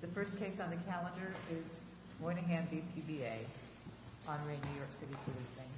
The first case on the calendar is Moynihan v. PBA, on Re. New York City Policing.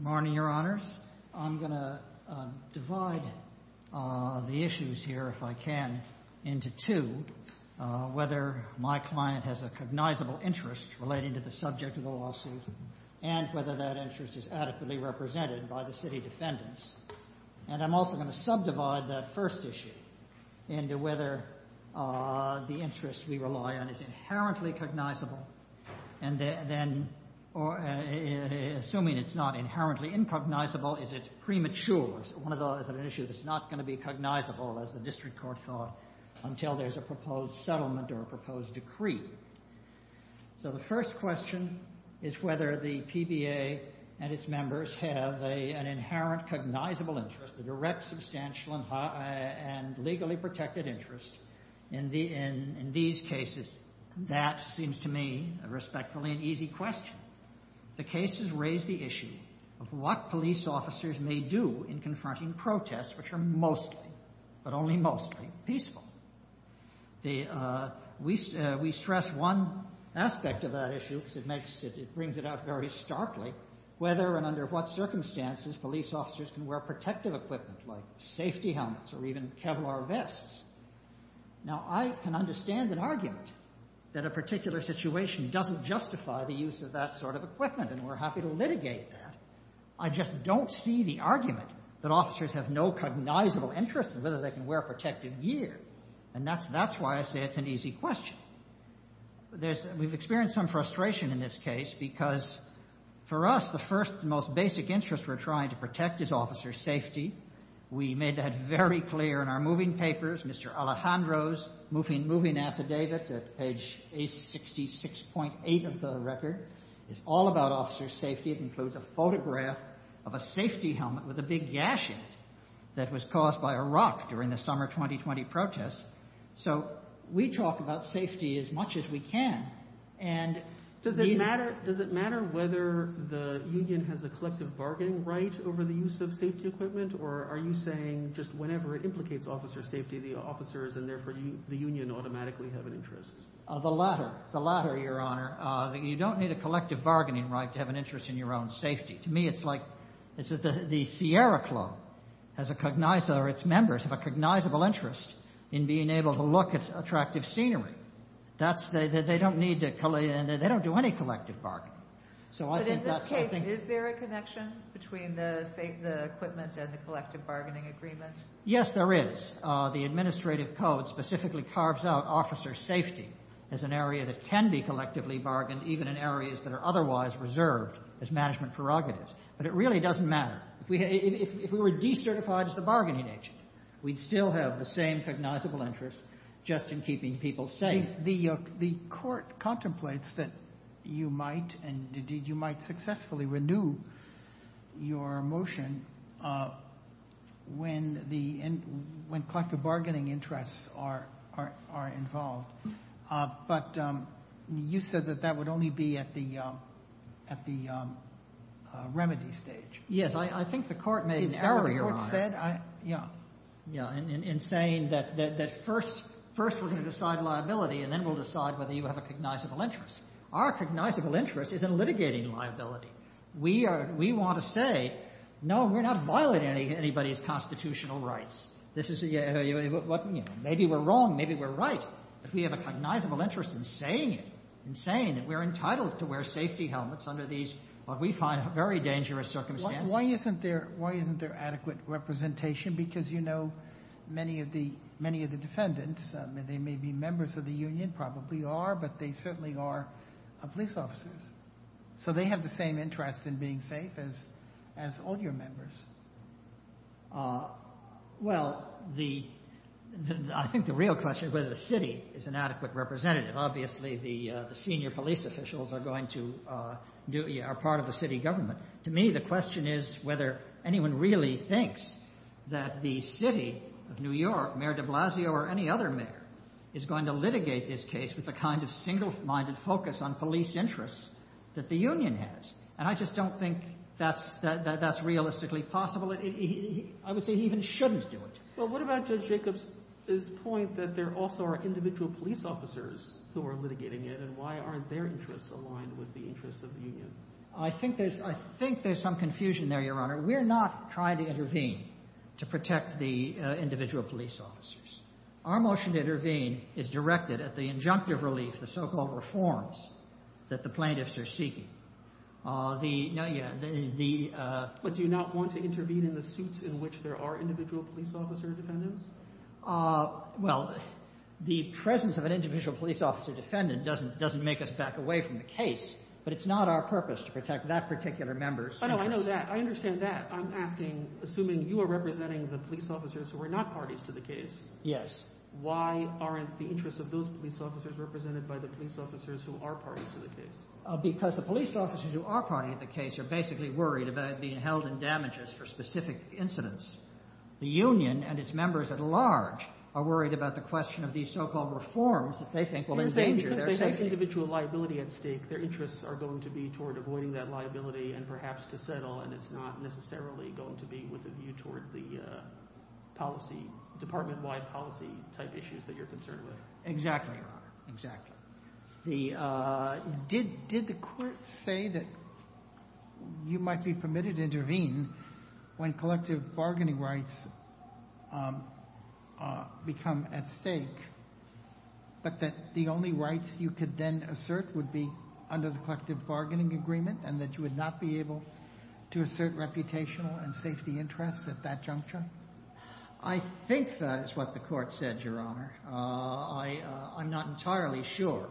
Morning, your honors. I'm going to divide the issues here, if I can, into two, whether my client has a cognizable interest relating to the subject of the lawsuit and whether that interest is adequately represented by the city defendants. And I'm also going to subdivide that first issue into whether the interest we rely on is inherently cognizable, and then, assuming it's not inherently incognizable, is it premature? One of those is an issue that's not going to be cognizable, as the district court thought, until there's a proposed settlement or a proposed decree. So the first question is whether the PBA and its members have an inherent cognizable interest, a direct, substantial, and legally protected interest in these cases. That seems to me, respectfully, an easy question. The cases raise the issue of what police officers may do in confronting protests, which are mostly, but only mostly, peaceful. We stress one aspect of that issue, because it brings it out very starkly, whether and under what circumstances police officers can wear protective equipment, like safety helmets or even Kevlar vests. Now, I can understand an argument that a particular situation doesn't justify the use of that sort of equipment, and we're happy to litigate that. I just don't see the argument that officers have no cognizable interest in whether they can wear protective gear. And that's why I say it's an easy question. We've experienced some frustration in this case, because for us, the first and most basic interest we're trying to protect is officer safety. We made that very clear in our moving papers. Mr. Alejandro's moving affidavit at page 866.8 of the record is all about officer safety. It includes a photograph of a safety helmet with a big gash in it that was caused by a rock during the summer 2020 protests. So we talk about safety as much as we can. And does it matter whether the union has a collective bargaining right over the use of safety equipment? Or are you saying just whenever it implicates officer safety, the officers and therefore the union automatically have an interest? The latter, the latter, Your Honor. You don't need a collective bargaining right to have an interest in your own safety. To me, it's like the Sierra Club has a cognizable, or its members have a cognizable interest in being able to look at attractive scenery. That's, they don't need to, they don't do any collective bargaining. But in this case, is there a connection between the equipment and the collective bargaining agreement? Yes, there is. The administrative code specifically carves out officer safety as an area that can be collectively bargained, even in areas that are otherwise reserved as management prerogatives. But it really doesn't matter. If we were decertified as the bargaining agency, we'd still have the same cognizable interest just in keeping people safe. If the Court contemplates that you might and indeed you might successfully renew your motion when the collective bargaining interests are involved, but you said that that would only be at the remedy stage. Yes. I think the Court made an error, Your Honor, in saying that first we're going to decide liability, and then we'll decide whether you have a cognizable interest. Our cognizable interest is in litigating liability. We are, we want to say, no, we're not violating anybody's constitutional rights. This is, maybe we're wrong, maybe we're right. But we have a cognizable interest in saying it, in saying that we're entitled to wear safety helmets under these, what we find, very dangerous circumstances. Why isn't there adequate representation? Because you know many of the defendants, they may be members of the union, probably are, but they certainly are police officers. So they have the same interest in being safe as all your members. Well, the, I think the real question is whether the city is an adequate representative. Obviously, the senior police officials are going to, are part of the city government. To me, the question is whether anyone really thinks that the city of New York, Mayor de Blasio or any other mayor, is going to litigate this case with a kind of single-minded focus on police interests that the union has. And I just don't think that's realistically possible. And I would say he even shouldn't do it. Well, what about Judge Jacobs' point that there also are individual police officers who are litigating it? And why aren't their interests aligned with the interests of the union? I think there's, I think there's some confusion there, Your Honor. We're not trying to intervene to protect the individual police officers. Our motion to intervene is directed at the injunctive relief, the so-called reforms that the plaintiffs are seeking. The, no, yeah, the... But do you not want to intervene in the suits in which there are individual police officer defendants? Well, the presence of an individual police officer defendant doesn't, doesn't make us back away from the case. But it's not our purpose to protect that particular member. I know, I know that. I understand that. I'm asking, assuming you are representing the police officers who are not parties to the case. Yes. Why aren't the interests of those police officers represented by the police officers who are parties to the case? Because the police officers who are parties to the case are basically worried about being held in damages for specific incidents. The union and its members at large are worried about the question of these so-called reforms that they think will endanger their safety. So you're saying because they have individual liability at stake, their interests are going to be toward avoiding that liability and perhaps to settle, and it's not necessarily going to be with a view toward the policy, department-wide policy-type issues that you're concerned with. Exactly, Your Honor. Exactly. The, did the court say that you might be permitted to intervene when collective bargaining rights become at stake, but that the only rights you could then assert would be under the collective bargaining agreement and that you would not be able to assert reputational and safety interests at that juncture? I think that is what the court said, Your Honor. I'm not entirely sure,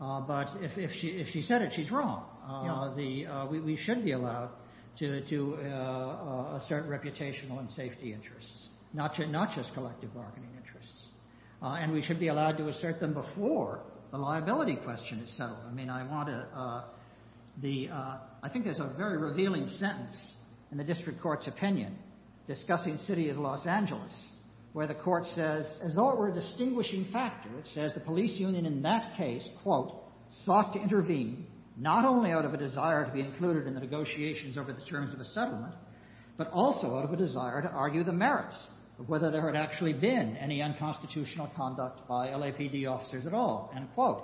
but if she said it, she's wrong. We should be allowed to assert reputational and safety interests, not just collective bargaining interests. And we should be allowed to assert them before the liability question is settled. I mean, I want to, the, I think there's a very revealing sentence in the district court's opinion discussing the city of Los Angeles, where the court says, as though it were a distinguishing factor, it says the police union in that case, quote, sought to intervene not only out of a desire to be included in the negotiations over the terms of the settlement, but also out of a desire to argue the merits of whether there had actually been any unconstitutional conduct by LAPD officers at all. And, quote,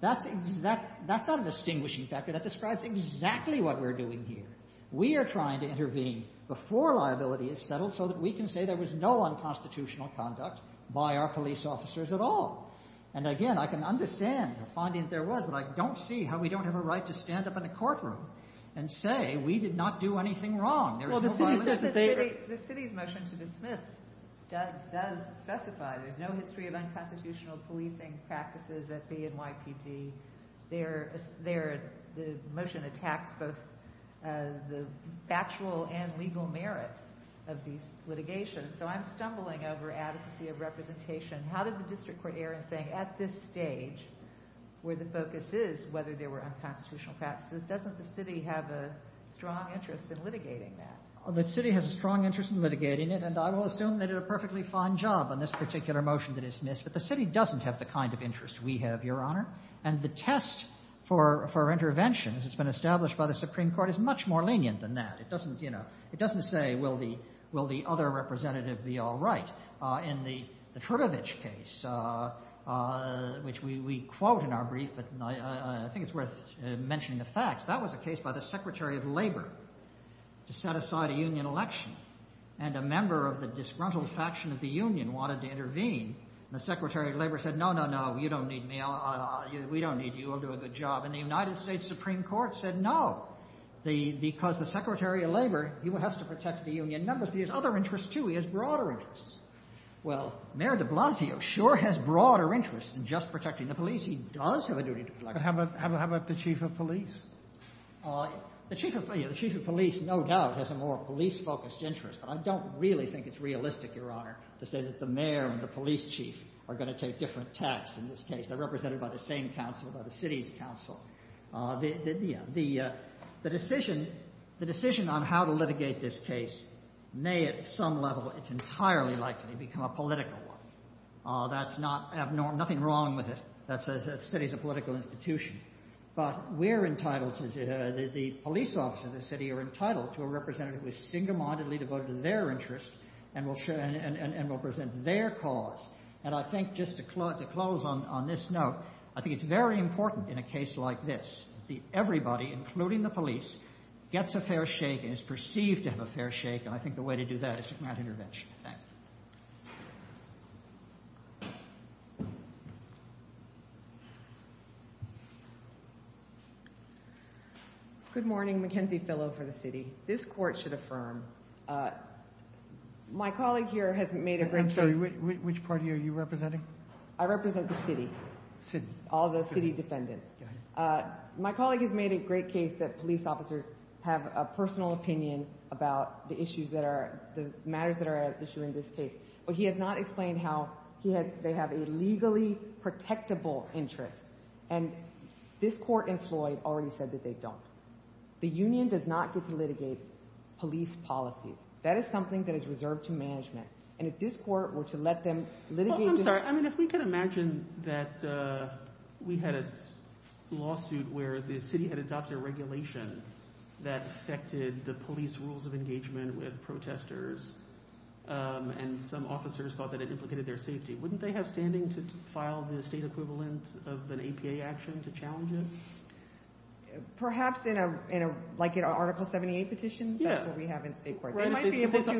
that's exact, that's not a distinguishing factor. That describes exactly what we're doing here. We are trying to intervene before liability is settled so that we can say there was no unconstitutional conduct by our police officers at all. And again, I can understand the finding that there was, but I don't see how we don't have a right to stand up in a courtroom and say we did not do anything wrong. There is no violation of the favor. The city's motion to dismiss does specify there's no history of unconstitutional policing practices at the NYPD. There, the motion attacks both the factual and legal merits of these litigations. So I'm stumbling over adequacy of representation. How did the district court err in saying at this stage where the focus is whether there were unconstitutional practices, doesn't the city have a strong interest in litigating that? The city has a strong interest in litigating it. And I will assume they did a perfectly fine job on this particular motion to dismiss. But the city doesn't have the kind of interest we have, Your Honor. And the test for intervention, as it's been established by the Supreme Court, is much more lenient than that. It doesn't say will the other representative be all right. In the Trubovich case, which we quote in our brief, but I think it's worth mentioning the facts, that was a case by the Secretary of Labor to set aside a union election. And a member of the disgruntled faction of the union wanted to intervene. And the Secretary of Labor said, no, no, no, you don't need me. We don't need you. We'll do a good job. And the United States Supreme Court said, no, because the Secretary of Labor, he has to protect the union members. But he has other interests, too. He has broader interests. Well, Mayor de Blasio sure has broader interests than just protecting the police. He does have a duty to protect the police. But how about the chief of police? The chief of police, no doubt, has a more police-focused interest. But I don't really think it's realistic, Your Honor, to say that the mayor and the police chief are going to take different tax in this case. They're represented by the same council, by the city's council. The decision on how to litigate this case may at some level, it's entirely likely, become a political one. That's not abnormal. Nothing wrong with it. That says the city's a political institution. But we're entitled to, the police officers of the city are entitled to a representative who is single-mindedly devoted to their interests and will present their cause. And I think, just to close on this note, I think it's very important in a case like this that everybody, including the police, gets a fair shake and is perceived to have a fair shake. And I think the way to do that is to grant intervention. Thank you. Good morning. Mackenzie Fillo for the city. This court should affirm. My colleague here has made a great... Which party are you representing? I represent the city. City. All the city defendants. My colleague has made a great case that police officers have a personal opinion about the issues that are, the matters that are at issue in this case. But he has not explained how they have a legally protectable interest. And this court in Floyd already said that they don't. The union does not get to litigate police policies. That is something that is reserved to management. And if this court were to let them litigate... I'm sorry. I mean, if we could imagine that we had a lawsuit where the city had adopted a regulation that affected the police rules of engagement with protesters. And some officers thought that it implicated their safety. Wouldn't they have standing to file the state equivalent of an APA action to challenge it? Perhaps in a, like an article 78 petition. That's what we have in state court. They might be able to... So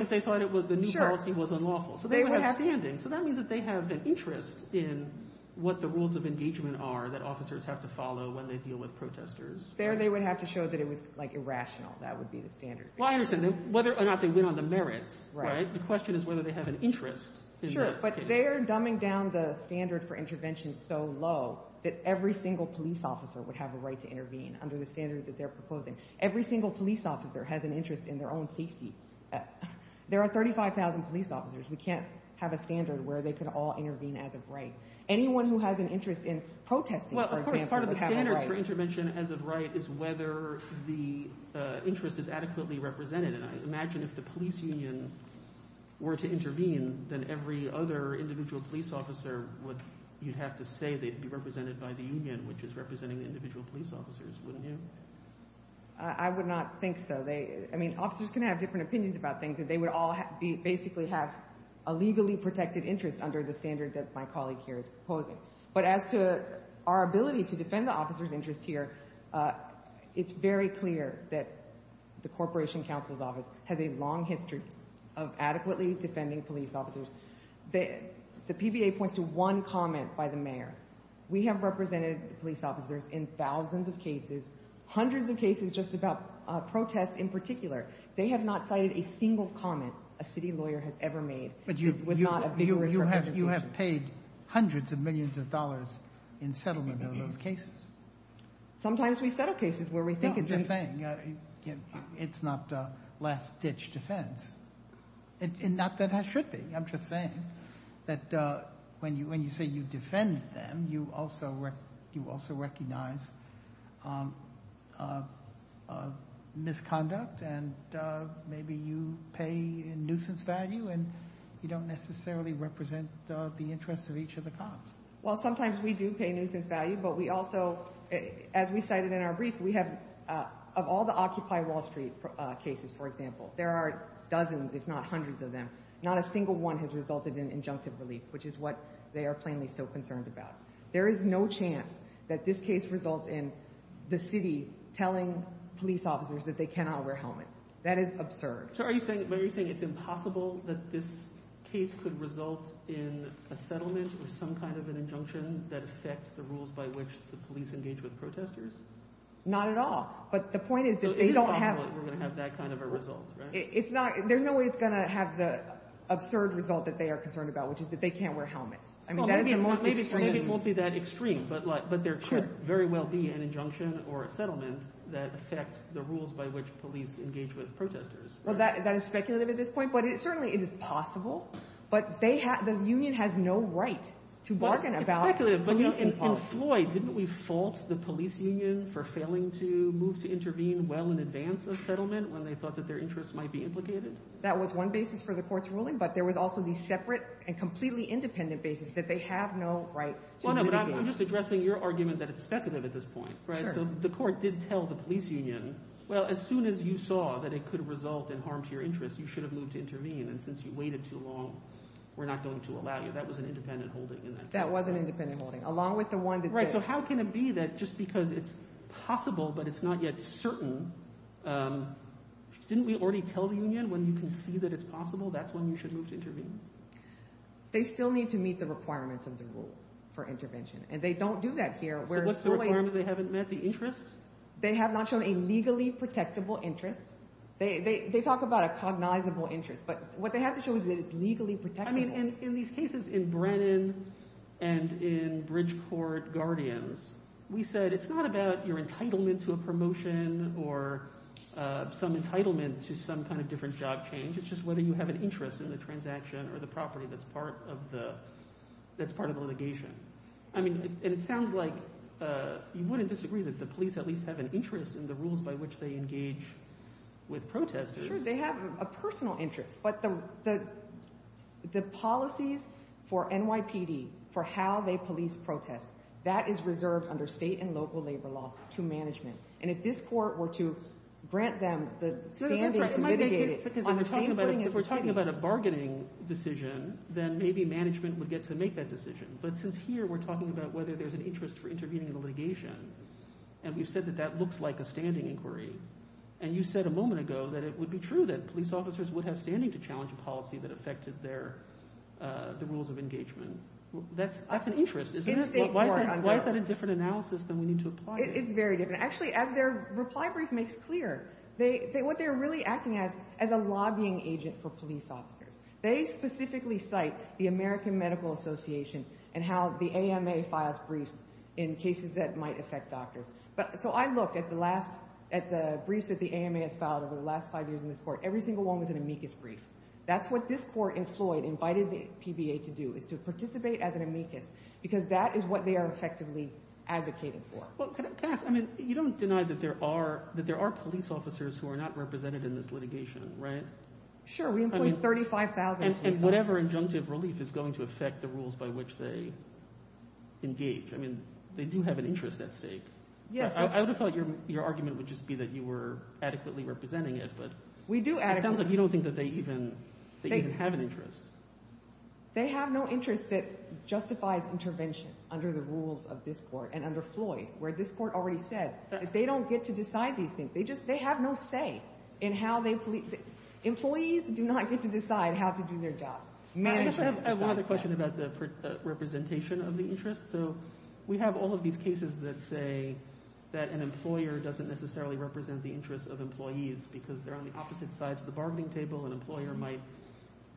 they would have standing. So that means that they have an interest in what the rules of engagement are that officers have to follow when they deal with protesters. There they would have to show that it was, like, irrational. That would be the standard. Well, I understand. Whether or not they win on the merits, right? The question is whether they have an interest. Sure. But they are dumbing down the standard for intervention so low that every single police officer would have a right to intervene under the standard that they're proposing. Every single police officer has an interest in their own safety. There are 35,000 police officers. We can't have a standard where they could all intervene as of right. Anyone who has an interest in protesting, for example... Well, of course, part of the standards for intervention as of right is whether the interest is adequately represented. And I imagine if the police union were to intervene, then every other individual police officer would, you'd have to say they'd be represented by the union, which is representing the individual police officers, wouldn't you? I would not think so. I mean, officers can have different opinions about things, and they would all basically have a legally protected interest under the standard that my colleague here is proposing. But as to our ability to defend the officer's interest here, it's very clear that the Corporation Counsel's Office has a long history of adequately defending police officers. The PBA points to one comment by the mayor. We have represented the police officers in thousands of cases, hundreds of cases just about protests in particular. They have not cited a single comment a city lawyer has ever made with not a vigorous representation. But you have paid hundreds of millions of dollars in settlement of those cases. Sometimes we settle cases where we think it's... No, I'm just saying, it's not last-ditch defense. And not that it should be. I'm just saying that when you say you defend them, you also recognize misconduct and maybe you pay in nuisance value and you don't necessarily represent the interests of each of the cops. Well, sometimes we do pay nuisance value, but we also, as we cited in our brief, we have, of all the Occupy Wall Street cases, for example, there are dozens if not hundreds of them. Not a single one has resulted in injunctive relief, which is what they are plainly so concerned about. There is no chance that this case results in the city telling police officers that they cannot wear helmets. That is absurd. So are you saying it's impossible that this case could result in a settlement or some kind of an injunction that affects the rules by which the police engage with protesters? Not at all. But the point is that they don't have... We're going to have that kind of a result, right? There's no way it's going to have the absurd result that they are concerned about, which is that they can't wear helmets. Well, maybe it won't be that extreme, but there could very well be an injunction or a settlement that affects the rules by which police engage with protesters. Well, that is speculative at this point, but certainly it is possible, but the union has no right to bargain about... It's speculative, but in Floyd, didn't we fault the police union for failing to move to intervene well in advance of settlement when they thought that their interests might be implicated? That was one basis for the court's ruling, but there was also the separate and completely independent basis that they have no right to move in. Well, no, but I'm just addressing your argument that it's speculative at this point, right? So the court did tell the police union, well, as soon as you saw that it could result in harm to your interests, you should have moved to intervene. And since you waited too long, we're not going to allow you. That was an independent holding in that case. That was an independent holding, along with the one that did. Right. So how can it be that just because it's possible, but it's not yet certain... Didn't we already tell the union, when you can see that it's possible, that's when you should move to intervene? They still need to meet the requirements of the rule for intervention, and they don't do that here. So what's the requirement they haven't met, the interests? They have not shown a legally protectable interest. They talk about a cognizable interest, but what they have to show is that it's legally protectable. And in these cases in Brennan and in Bridgeport Guardians, we said, it's not about your some entitlement to some kind of different job change, it's just whether you have an interest in the transaction or the property that's part of the litigation. I mean, it sounds like you wouldn't disagree that the police at least have an interest in the rules by which they engage with protesters. Sure, they have a personal interest, but the policies for NYPD, for how they police protests, that is reserved under state and local labor law to management. And if this court were to grant them the standing to mitigate it on the same thing as we... If we're talking about a bargaining decision, then maybe management would get to make that decision. But since here we're talking about whether there's an interest for intervening in the litigation, and we've said that that looks like a standing inquiry, and you said a moment ago that it would be true that police officers would have standing to challenge a policy that affected the rules of engagement. That's an interest. Why is that a different analysis than we need to apply? It's very different. Actually, as their reply brief makes clear, what they're really acting as is a lobbying agent for police officers. They specifically cite the American Medical Association and how the AMA files briefs in cases that might affect doctors. So I looked at the briefs that the AMA has filed over the last five years in this court. Every single one was an amicus brief. That's what this court in Floyd invited the PBA to do, is to participate as an amicus, because that is what they are effectively advocating for. Well, can I ask, I mean, you don't deny that there are police officers who are not represented in this litigation, right? Sure. We include 35,000 police officers. And whatever injunctive relief is going to affect the rules by which they engage. I mean, they do have an interest at stake. I would have thought your argument would just be that you were adequately representing it, but it sounds like you don't think that they even have an interest. They have no interest that justifies intervention under the rules of this court and under this court already said. They don't get to decide these things. They just, they have no say in how they police. Employees do not get to decide how to do their jobs. I have another question about the representation of the interest. So we have all of these cases that say that an employer doesn't necessarily represent the interests of employees because they're on the opposite sides of the bargaining table. An employer might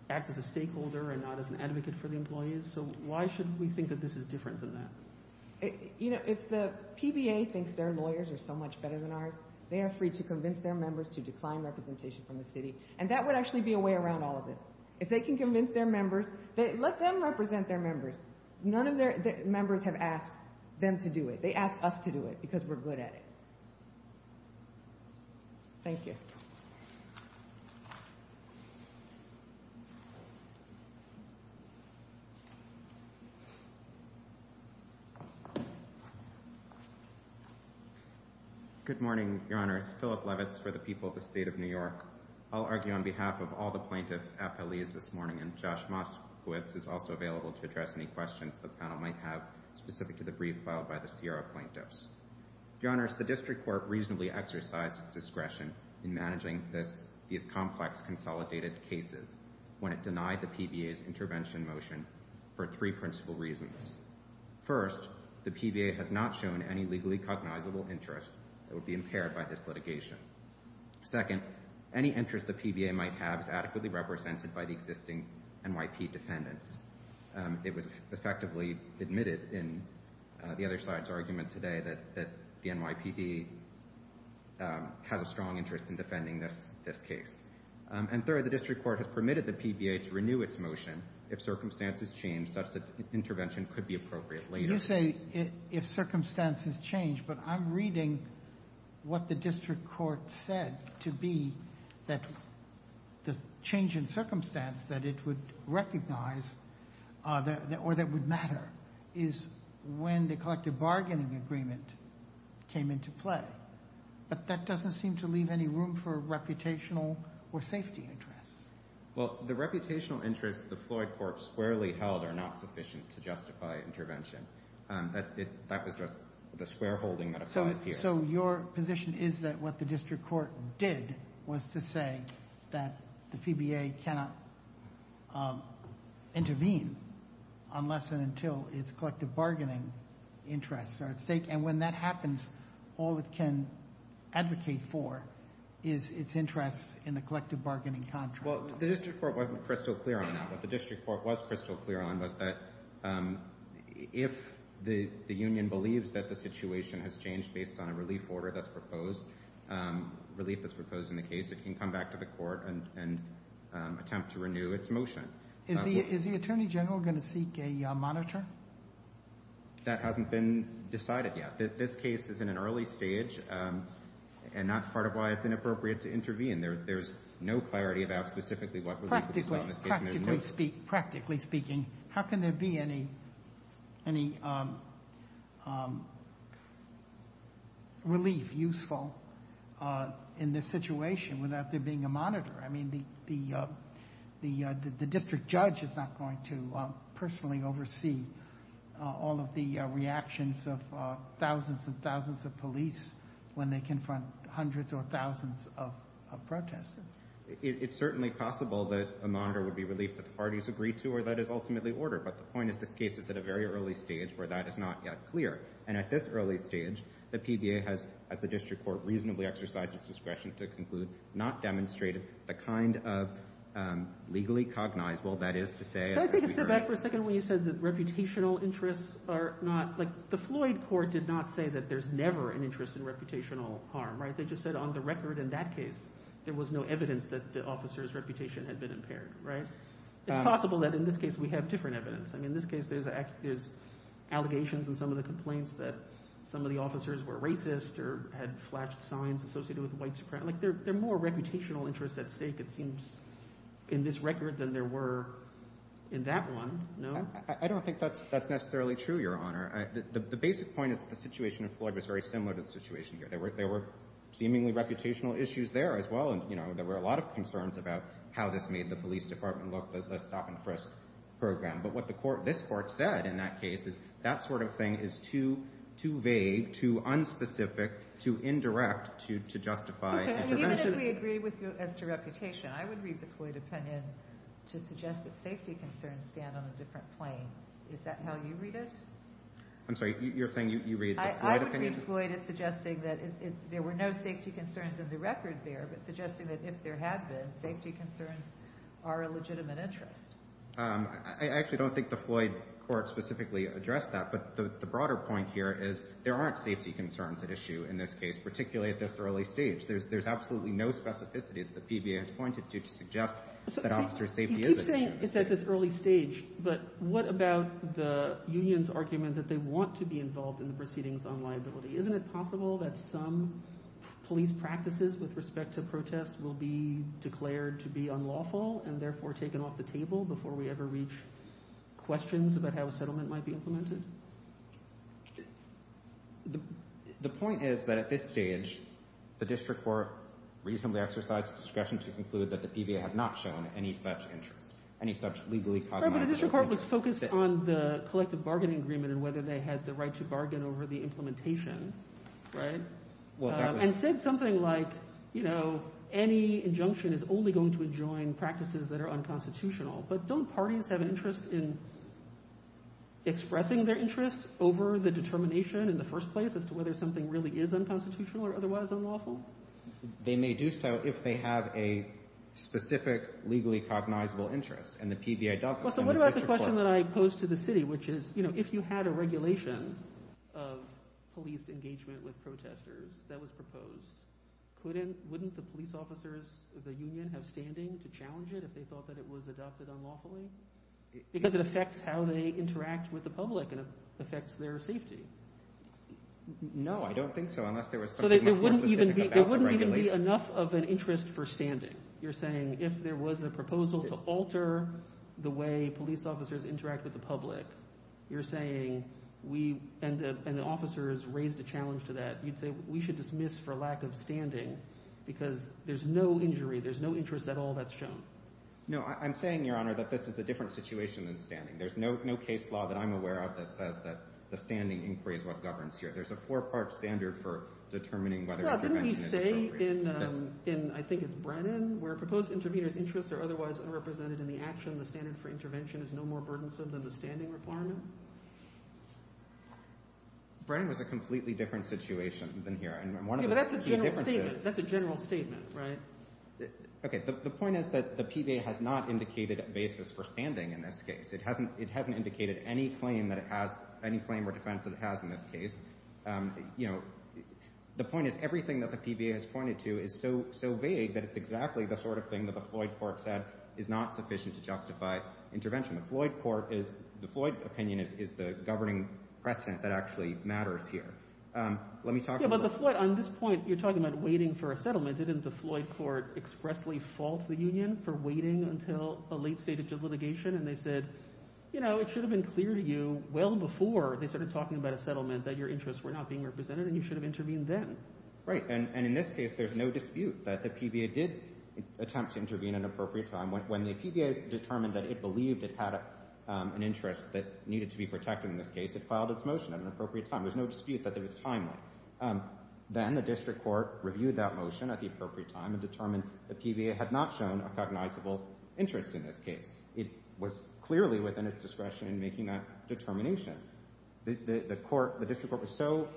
act as a stakeholder and not as an advocate for the employees. So why should we think that this is different than that? You know, if the PBA thinks their lawyers are so much better than ours, they are free to convince their members to decline representation from the city. And that would actually be a way around all of this. If they can convince their members, let them represent their members. None of their members have asked them to do it. They ask us to do it because we're good at it. Thank you. Good morning, Your Honors. Philip Levitz for the people of the State of New York. I'll argue on behalf of all the plaintiff appellees this morning. And Josh Moskowitz is also available to address any questions the panel might have, specific to the brief filed by the Sierra plaintiffs. Your Honors, the District Court reasonably exercised discretion in managing this, these complex consolidated cases when it denied the PBA's intervention motion for three principal reasons. First, the PBA has not shown any legally cognizable interest that would be impaired by this litigation. Second, any interest the PBA might have is adequately represented by the existing NYPD defendants. It was effectively admitted in the other side's argument today that the NYPD has a strong interest in defending this case. And third, the District Court has permitted the PBA to renew its motion if circumstances change, such that intervention could be appropriate later. You say if circumstances change, but I'm reading what the District Court said to be that the change in circumstance that it would recognize or that would matter is when the collective bargaining agreement came into play. But that doesn't seem to leave any room for reputational or safety interests. Well, the reputational interests the Floyd Court squarely held are not sufficient to justify intervention. That was just the square holding that applies here. So your position is that what the District Court did was to say that the PBA cannot intervene unless and until its collective bargaining interests are at stake. And when that happens, all it can advocate for is its interests in the collective bargaining contract. The District Court wasn't crystal clear on that. What the District Court was crystal clear on was that if the union believes that the situation has changed based on a relief order that's proposed, relief that's proposed in the case, it can come back to the court and attempt to renew its motion. Is the Attorney General going to seek a monitor? That hasn't been decided yet. This case is in an early stage, and that's part of why it's inappropriate to intervene. There's no clarity about specifically what relief it's going to take. Practically speaking, how can there be any relief useful in this situation without there being a monitor? I mean, the district judge is not going to personally oversee all of the reactions of thousands and thousands of police when they confront hundreds or thousands of protesters. It's certainly possible that a monitor would be relief that the parties agree to, or that is ultimately order. But the point is, this case is at a very early stage where that is not yet clear. And at this early stage, the PBA has, as the District Court, reasonably exercised its discretion to conclude, not demonstrated the kind of legally cognizable that is to say— Can I take a step back for a second? When you said that reputational interests are not— Right? They just said on the record in that case, there was no evidence that the officer's reputation had been impaired, right? It's possible that in this case, we have different evidence. I mean, in this case, there's allegations in some of the complaints that some of the officers were racist or had flashed signs associated with white supremacy. Like, there are more reputational interests at stake, it seems, in this record than there were in that one, no? I don't think that's necessarily true, Your Honor. The basic point is that the situation in Floyd was very similar to the situation here. There were seemingly reputational issues there as well. And, you know, there were a lot of concerns about how this made the police department look, the stop-and-frisk program. But what this Court said in that case is, that sort of thing is too vague, too unspecific, too indirect to justify intervention. Even if we agree as to reputation, I would read the Floyd opinion to suggest that safety concerns stand on a different plane. Is that how you read it? I'm sorry. You're saying you read the Floyd opinion? I would read Floyd as suggesting that there were no safety concerns in the record there, but suggesting that if there had been, safety concerns are a legitimate interest. I actually don't think the Floyd Court specifically addressed that. But the broader point here is there aren't safety concerns at issue in this case, particularly at this early stage. There's absolutely no specificity that the PBA has pointed to, to suggest that officer safety is an issue. You keep saying it's at this early stage, but what about the union's argument that they want to be involved in the proceedings on liability? Isn't it possible that some police practices with respect to protests will be declared to be unlawful and therefore taken off the table before we ever reach questions about how a settlement might be implemented? The point is that at this stage, the District Court reasonably exercised discretion to conclude that the PBA had not shown any such interest, any such legally-cognizant interest. The District Court was focused on the collective bargaining agreement and whether they had the right to bargain over the implementation, right? And said something like, you know, any injunction is only going to adjoin practices that are unconstitutional. But don't parties have an interest in expressing their interest over the determination in the first place as to whether something really is unconstitutional or otherwise unlawful? They may do so if they have a specific legally-cognizable interest, and the PBA doesn't. So what about the question that I posed to the city, which is, you know, if you had a regulation of police engagement with protesters that was proposed, wouldn't the police officers of the union have standing to challenge it if they thought that it was adopted unlawfully? Because it affects how they interact with the public, and it affects their safety. No, I don't think so, unless there was something more specific about the regulation. So there wouldn't even be enough of an interest for standing. You're saying if there was a proposal to alter the way police officers interact with the public, you're saying we, and the officers raised a challenge to that, you'd say we should dismiss for lack of standing because there's no injury, there's no interest at all that's shown. No, I'm saying, Your Honor, that this is a different situation than standing. There's no case law that I'm aware of that says that the standing inquiry is what governs here. There's a four-part standard for determining whether intervention is appropriate. In, I think it's Brennan, where proposed intervenors' interests are otherwise unrepresented in the action, the standard for intervention is no more burdensome than the standing requirement? Brennan was a completely different situation than here. Yeah, but that's a general statement. That's a general statement, right? Okay, the point is that the PBA has not indicated a basis for standing in this case. It hasn't indicated any claim or defense that it has in this case. You know, the point is, everything that the PBA has pointed to is so vague that it's exactly the sort of thing that the Floyd court said is not sufficient to justify intervention. The Floyd court is, the Floyd opinion is the governing precedent that actually matters here. Let me talk about... Yeah, but the Floyd, on this point, you're talking about waiting for a settlement. Didn't the Floyd court expressly fault the union for waiting until a late stage of litigation? And they said, you know, it should have been clear to you well before they started talking about a settlement that your interests were not being represented and you should have intervened then. Right, and in this case, there's no dispute that the PBA did attempt to intervene at an appropriate time. When the PBA determined that it believed it had an interest that needed to be protected in this case, it filed its motion at an appropriate time. There's no dispute that it was timely. Then the district court reviewed that motion at the appropriate time and determined the PBA had not shown a cognizable interest in this case. It was clearly within its discretion in making that determination. The court... The district court was so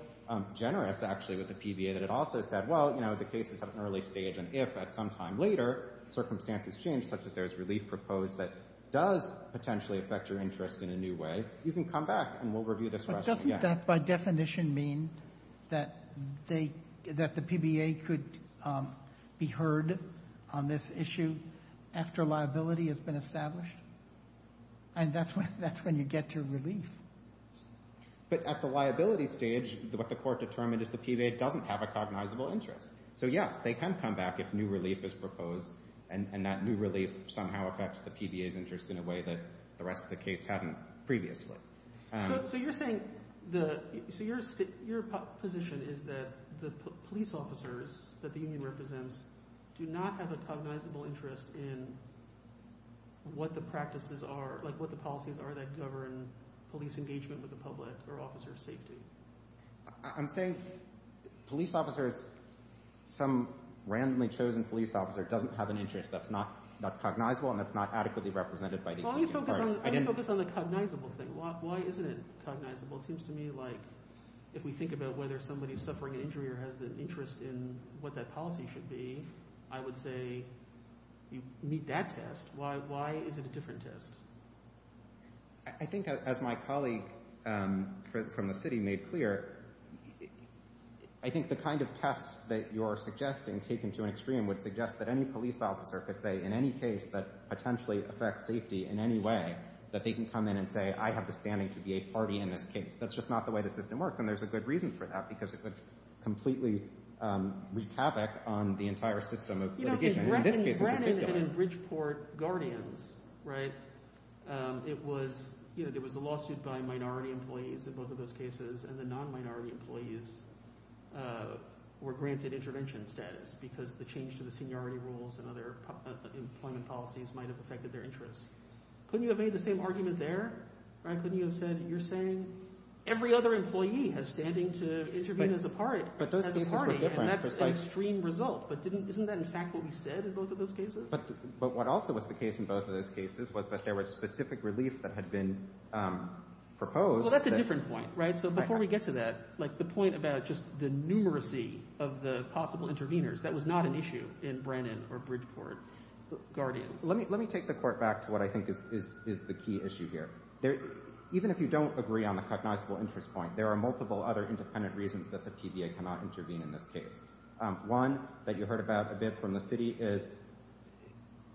generous, actually, with the PBA that it also said, well, you know, the case is at an early stage and if at some time later circumstances change such that there's relief proposed that does potentially affect your interest in a new way, you can come back and we'll review this question again. But doesn't that, by definition, mean that the PBA could be heard And that's when you get to relief. But at the liability stage, what the court determined is the PBA doesn't have a cognizable interest. So yes, they can come back if new relief is proposed and that new relief somehow affects the PBA's interest in a way that the rest of the case hadn't previously. So you're saying the... So your position is that the police officers that the union represents do not have a cognizable interest in what the practices are, like what the policies are that govern police engagement with the public or officer safety. I'm saying police officers, some randomly chosen police officer doesn't have an interest that's cognizable and that's not adequately represented by... Well, let me focus on the cognizable thing. Why isn't it cognizable? It seems to me like if we think about whether somebody's suffering an injury or has an interest in what that policy should be, I would say you meet that test. Why is it a different test? I think as my colleague from the city made clear, I think the kind of test that you're suggesting taken to an extreme would suggest that any police officer could say in any case that potentially affects safety in any way that they can come in and say, I have the standing to be a party in this case. That's just not the way the system works. And there's a good reason for that on the entire system of litigation. In this case in particular. And in Bridgeport Guardians, there was a lawsuit by minority employees in both of those cases and the non-minority employees were granted intervention status because the change to the seniority rules and other employment policies might've affected their interests. Couldn't you have made the same argument there? Couldn't you have said, you're saying every other employee has standing to intervene as a party. But those cases were different. And that's an extreme result. But isn't that in fact what we said in both of those cases? But what also was the case in both of those cases was that there was specific relief that had been proposed. Well, that's a different point, right? So before we get to that, like the point about just the numeracy of the possible intervenors, that was not an issue in Brennan or Bridgeport Guardians. Let me take the court back to what I think is the key issue here. Even if you don't agree on the cognizable interest point, there are multiple other independent reasons that the PBA cannot intervene in this case. One that you heard about a bit from the city is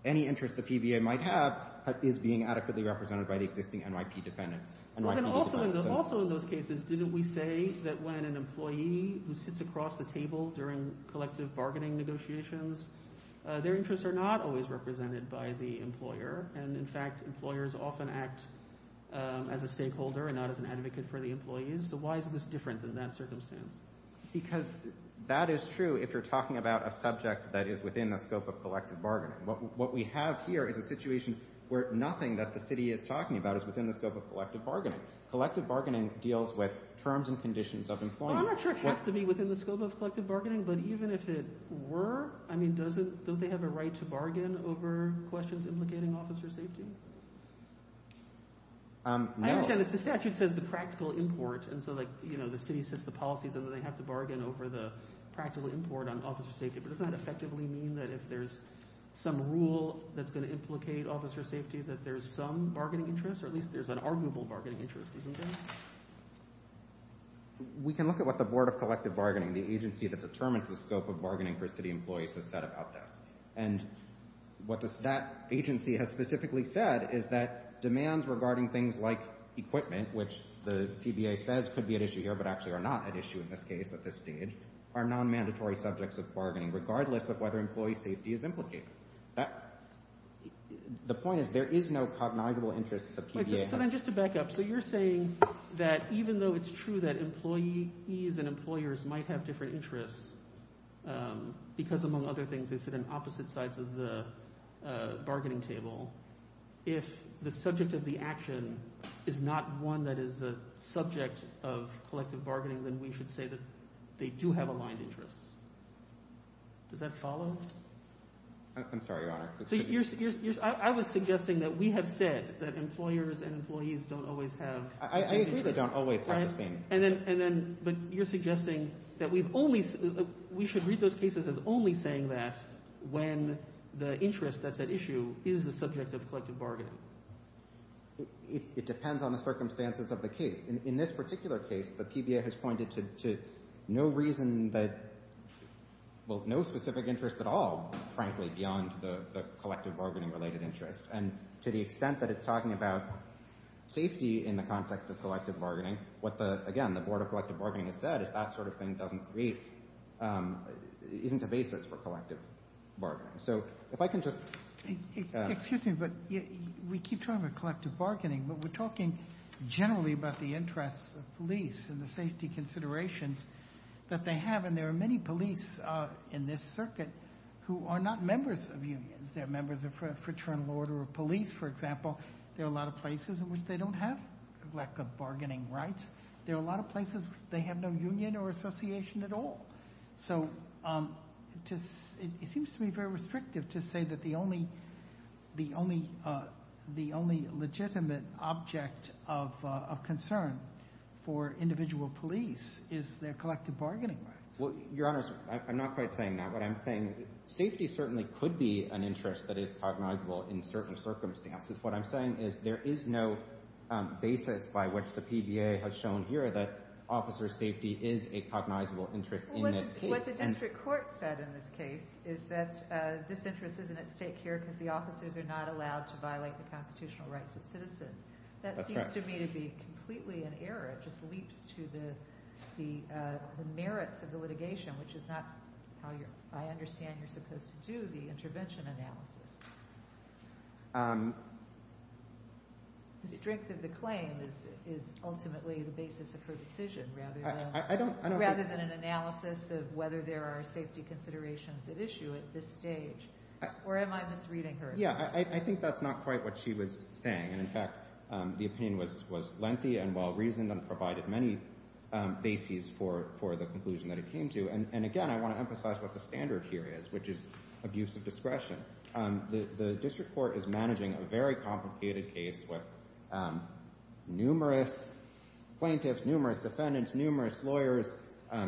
any interest the PBA might have is being adequately represented by the existing NYPD defendants. And NYPD defendants are- Also in those cases, didn't we say that when an employee who sits across the table during collective bargaining negotiations, their interests are not always represented by the employer. And in fact, employers often act as a stakeholder and not as an advocate for the employees. So why is this different than that circumstance? Because that is true if you're talking about a subject that is within the scope of collective bargaining. What we have here is a situation where nothing that the city is talking about is within the scope of collective bargaining. Collective bargaining deals with terms and conditions of employment. I'm not sure it has to be within the scope of collective bargaining, but even if it were, I mean, don't they have a right to bargain over questions implicating officer safety? No. I understand the statute says the practical import. And so like, you know, the city sets the policies and then they have to bargain over the practical import on officer safety. But does that effectively mean that if there's some rule that's going to implicate officer safety, that there's some bargaining interest or at least there's an arguable bargaining interest, isn't there? We can look at what the Board of Collective Bargaining, the agency that determines the scope of bargaining for city employees, has said about this. And what that agency has specifically said is that demands regarding things like equipment, which the TBA says could be an issue here, but actually are not an issue in this case at this stage, are non-mandatory subjects of bargaining, regardless of whether employee safety is implicated. The point is there is no cognizable interest that the TBA has. So then just to back up, so you're saying that even though it's true that employees and employers might have different interests, because among other things, they sit on opposite sides of the bargaining table, if the subject of the action is not one that is a subject of collective bargaining, then we should say that they do have aligned interests. Does that follow? I'm sorry, Your Honor. So I was suggesting that we have said that employers and employees don't always have... I agree they don't always have the same. But you're suggesting that we should read those cases as only saying that when the interest that's at issue is the subject of collective bargaining. It depends on the circumstances of the case. In this particular case, the TBA has pointed to no reason that... Well, no specific interest at all, frankly, beyond the collective bargaining related interest. And to the extent that it's talking about safety in the context of collective bargaining, what the, again, the Board of Collective Bargaining has said is that sort of thing doesn't create... Isn't a basis for collective bargaining. So if I can just... Excuse me, but we keep talking about collective bargaining, but we're talking generally about the interests of police and the safety considerations that they have. And there are many police in this circuit who are not members of unions. They're members of fraternal order of police, for example. There are a lot of places in which they don't have a lack of bargaining rights. There are a lot of places they have no union or association at all. So it seems to be very restrictive to say that the only legitimate object of concern for individual police is their collective bargaining rights. Well, Your Honors, I'm not quite saying that. What I'm saying, safety certainly could be an interest that is cognizable in certain circumstances. What I'm saying is there is no basis by which the PBA has shown here that officer safety is a cognizable interest in this case. What the district court said in this case is that this interest isn't at stake here because the officers are not allowed to violate the constitutional rights of citizens. That seems to me to be completely in error. It just leaps to the merits of the litigation, which is not how I understand you're supposed to do the intervention analysis. The strength of the claim is ultimately the basis of her decision, rather than an analysis of whether there are safety considerations at issue at this stage. Or am I misreading her? Yeah, I think that's not quite what she was saying. And in fact, the opinion was lengthy and well-reasoned and provided many bases for the conclusion that it came to. And again, I want to emphasize what the standard here is, which is abuse of discretion. The district court is managing a very complicated case with numerous plaintiffs, numerous defendants, numerous lawyers,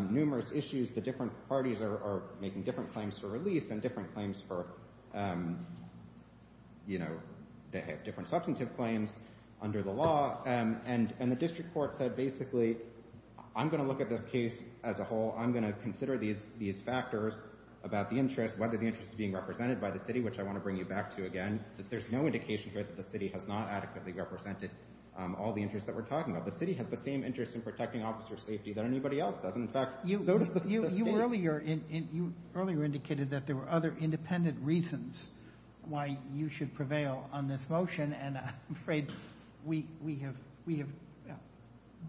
numerous issues. The different parties are making different claims for relief and different claims for, you know, they have different substantive claims under the law. And the district court said, basically, I'm going to look at this case as a whole. I'm going to consider these factors about the interest, whether the interest is being represented by the city, which I want to bring you back to again, that there's no indication here that the city has not adequately represented all the interests that we're talking about. The city has the same interest in protecting officer safety than anybody else does. And in fact, so does the state. You earlier indicated that there were other independent reasons why you should prevail on this motion. And I'm afraid we have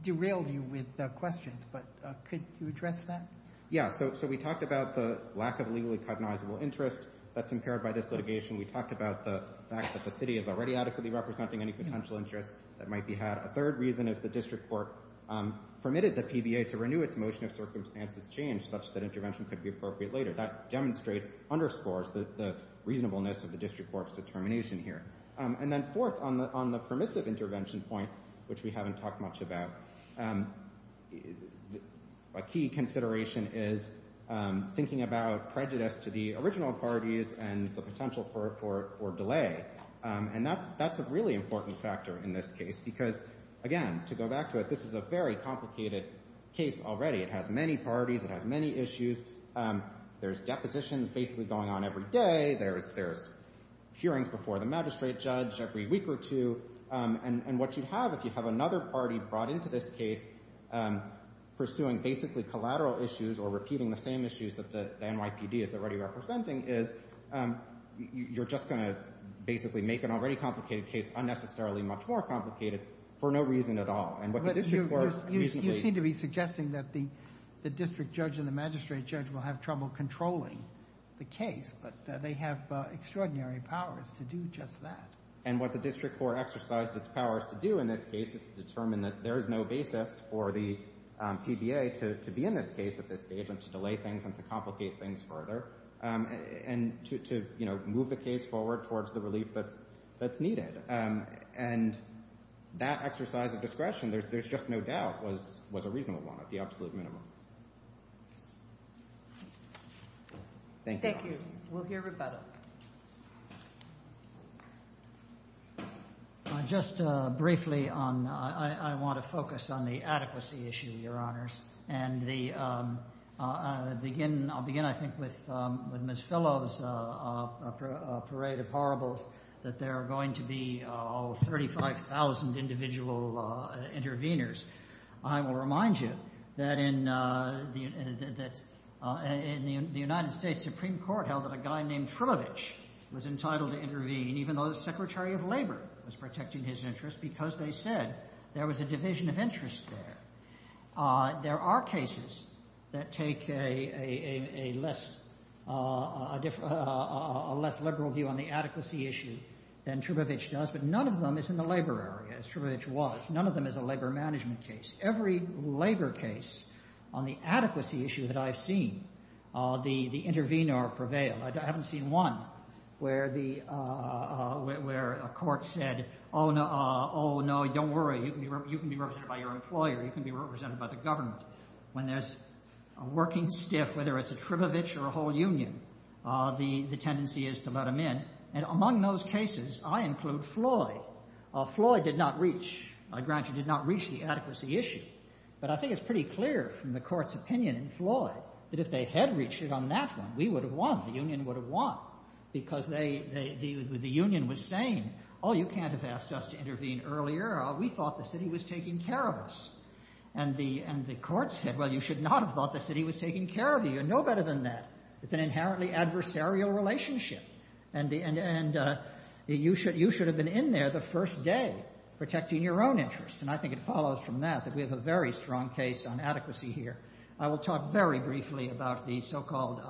derailed you with questions, but could you address that? Yeah, so we talked about the lack of legally cognizable interest that's impaired by this litigation. We talked about the fact that the city is already adequately representing any potential interest that might be had. A third reason is the district court permitted the PBA to renew its motion if circumstances change such that intervention could be appropriate later. That demonstrates, underscores the reasonableness of the district court's determination here. And then fourth, on the permissive intervention point, which we haven't talked much about, a key consideration is thinking about prejudice to the original parties and the potential for delay. And that's a really important factor in this case, because again, to go back to it, this is a very complicated case already. It has many parties. It has many issues. There's depositions basically going on every day. There's hearings before the magistrate judge every week or two. And what you'd have if you have another party brought into this case pursuing basically collateral issues or repeating the same issues that the NYPD is already representing is you're just going to basically make an already complicated case unnecessarily much more complicated for no reason at all. And what the district court reasonably... You seem to be suggesting that the district judge and the magistrate judge will have trouble controlling the case, but they have extraordinary powers to do just that. And what the district court exercised its powers to do in this case is to determine that there is no basis for the PBA to be in this case at this stage and to delay things and to complicate things further and to move the case forward towards the relief that's needed. And that exercise of discretion, there's just no doubt, was a reasonable one at the absolute minimum. Thank you. Thank you. We'll hear rebuttal. I just briefly on... I want to focus on the adequacy issue, Your Honors. And I'll begin, I think, with Ms. Fellow's parade of horribles that there are going to be all 35,000 individual interveners. I will remind you that in the United States Supreme Court held that a guy named Trilovich was entitled to intervene even though the Secretary of Labor was protecting his interests because they said there was a division of interest there. There are cases that take a less liberal view on the adequacy issue than Trilovich does, but none of them is in the labor area as Trilovich was. None of them is a labor management case. Every labor case on the adequacy issue that I've seen, the intervener prevailed. I haven't seen one where a court said, oh, no, don't worry. You can be represented by your employer. You can be represented by the government. When there's a working stiff, whether it's a Trilovich or a whole union, the tendency is to let them in. And among those cases, I include Floyd. Floyd did not reach, I grant you, did not reach the adequacy issue. But I think it's pretty clear from the court's opinion in Floyd that if they had reached it on that one, we would have won. The union would have won because the union was saying, oh, you can't have asked us to intervene earlier. We thought the city was taking care of us. And the court said, well, you should not have thought the city was taking care of you. You're no better than that. It's an inherently adversarial relationship. And you should have been in there the first day protecting your own interests. And I think it follows from that that we have a very strong case on adequacy here. I will talk very briefly about the so-called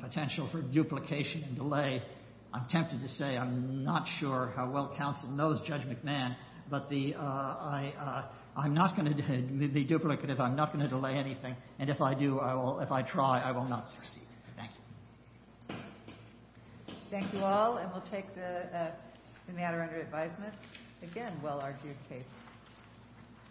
potential for duplication and delay. I'm tempted to say I'm not sure how well counsel knows Judge McMahon. But I'm not going to be duplicative. I'm not going to delay anything. And if I do, I will, if I try, I will not succeed. Thank you. Thank you all. And we'll take the matter under advisement. Again, well-argued case.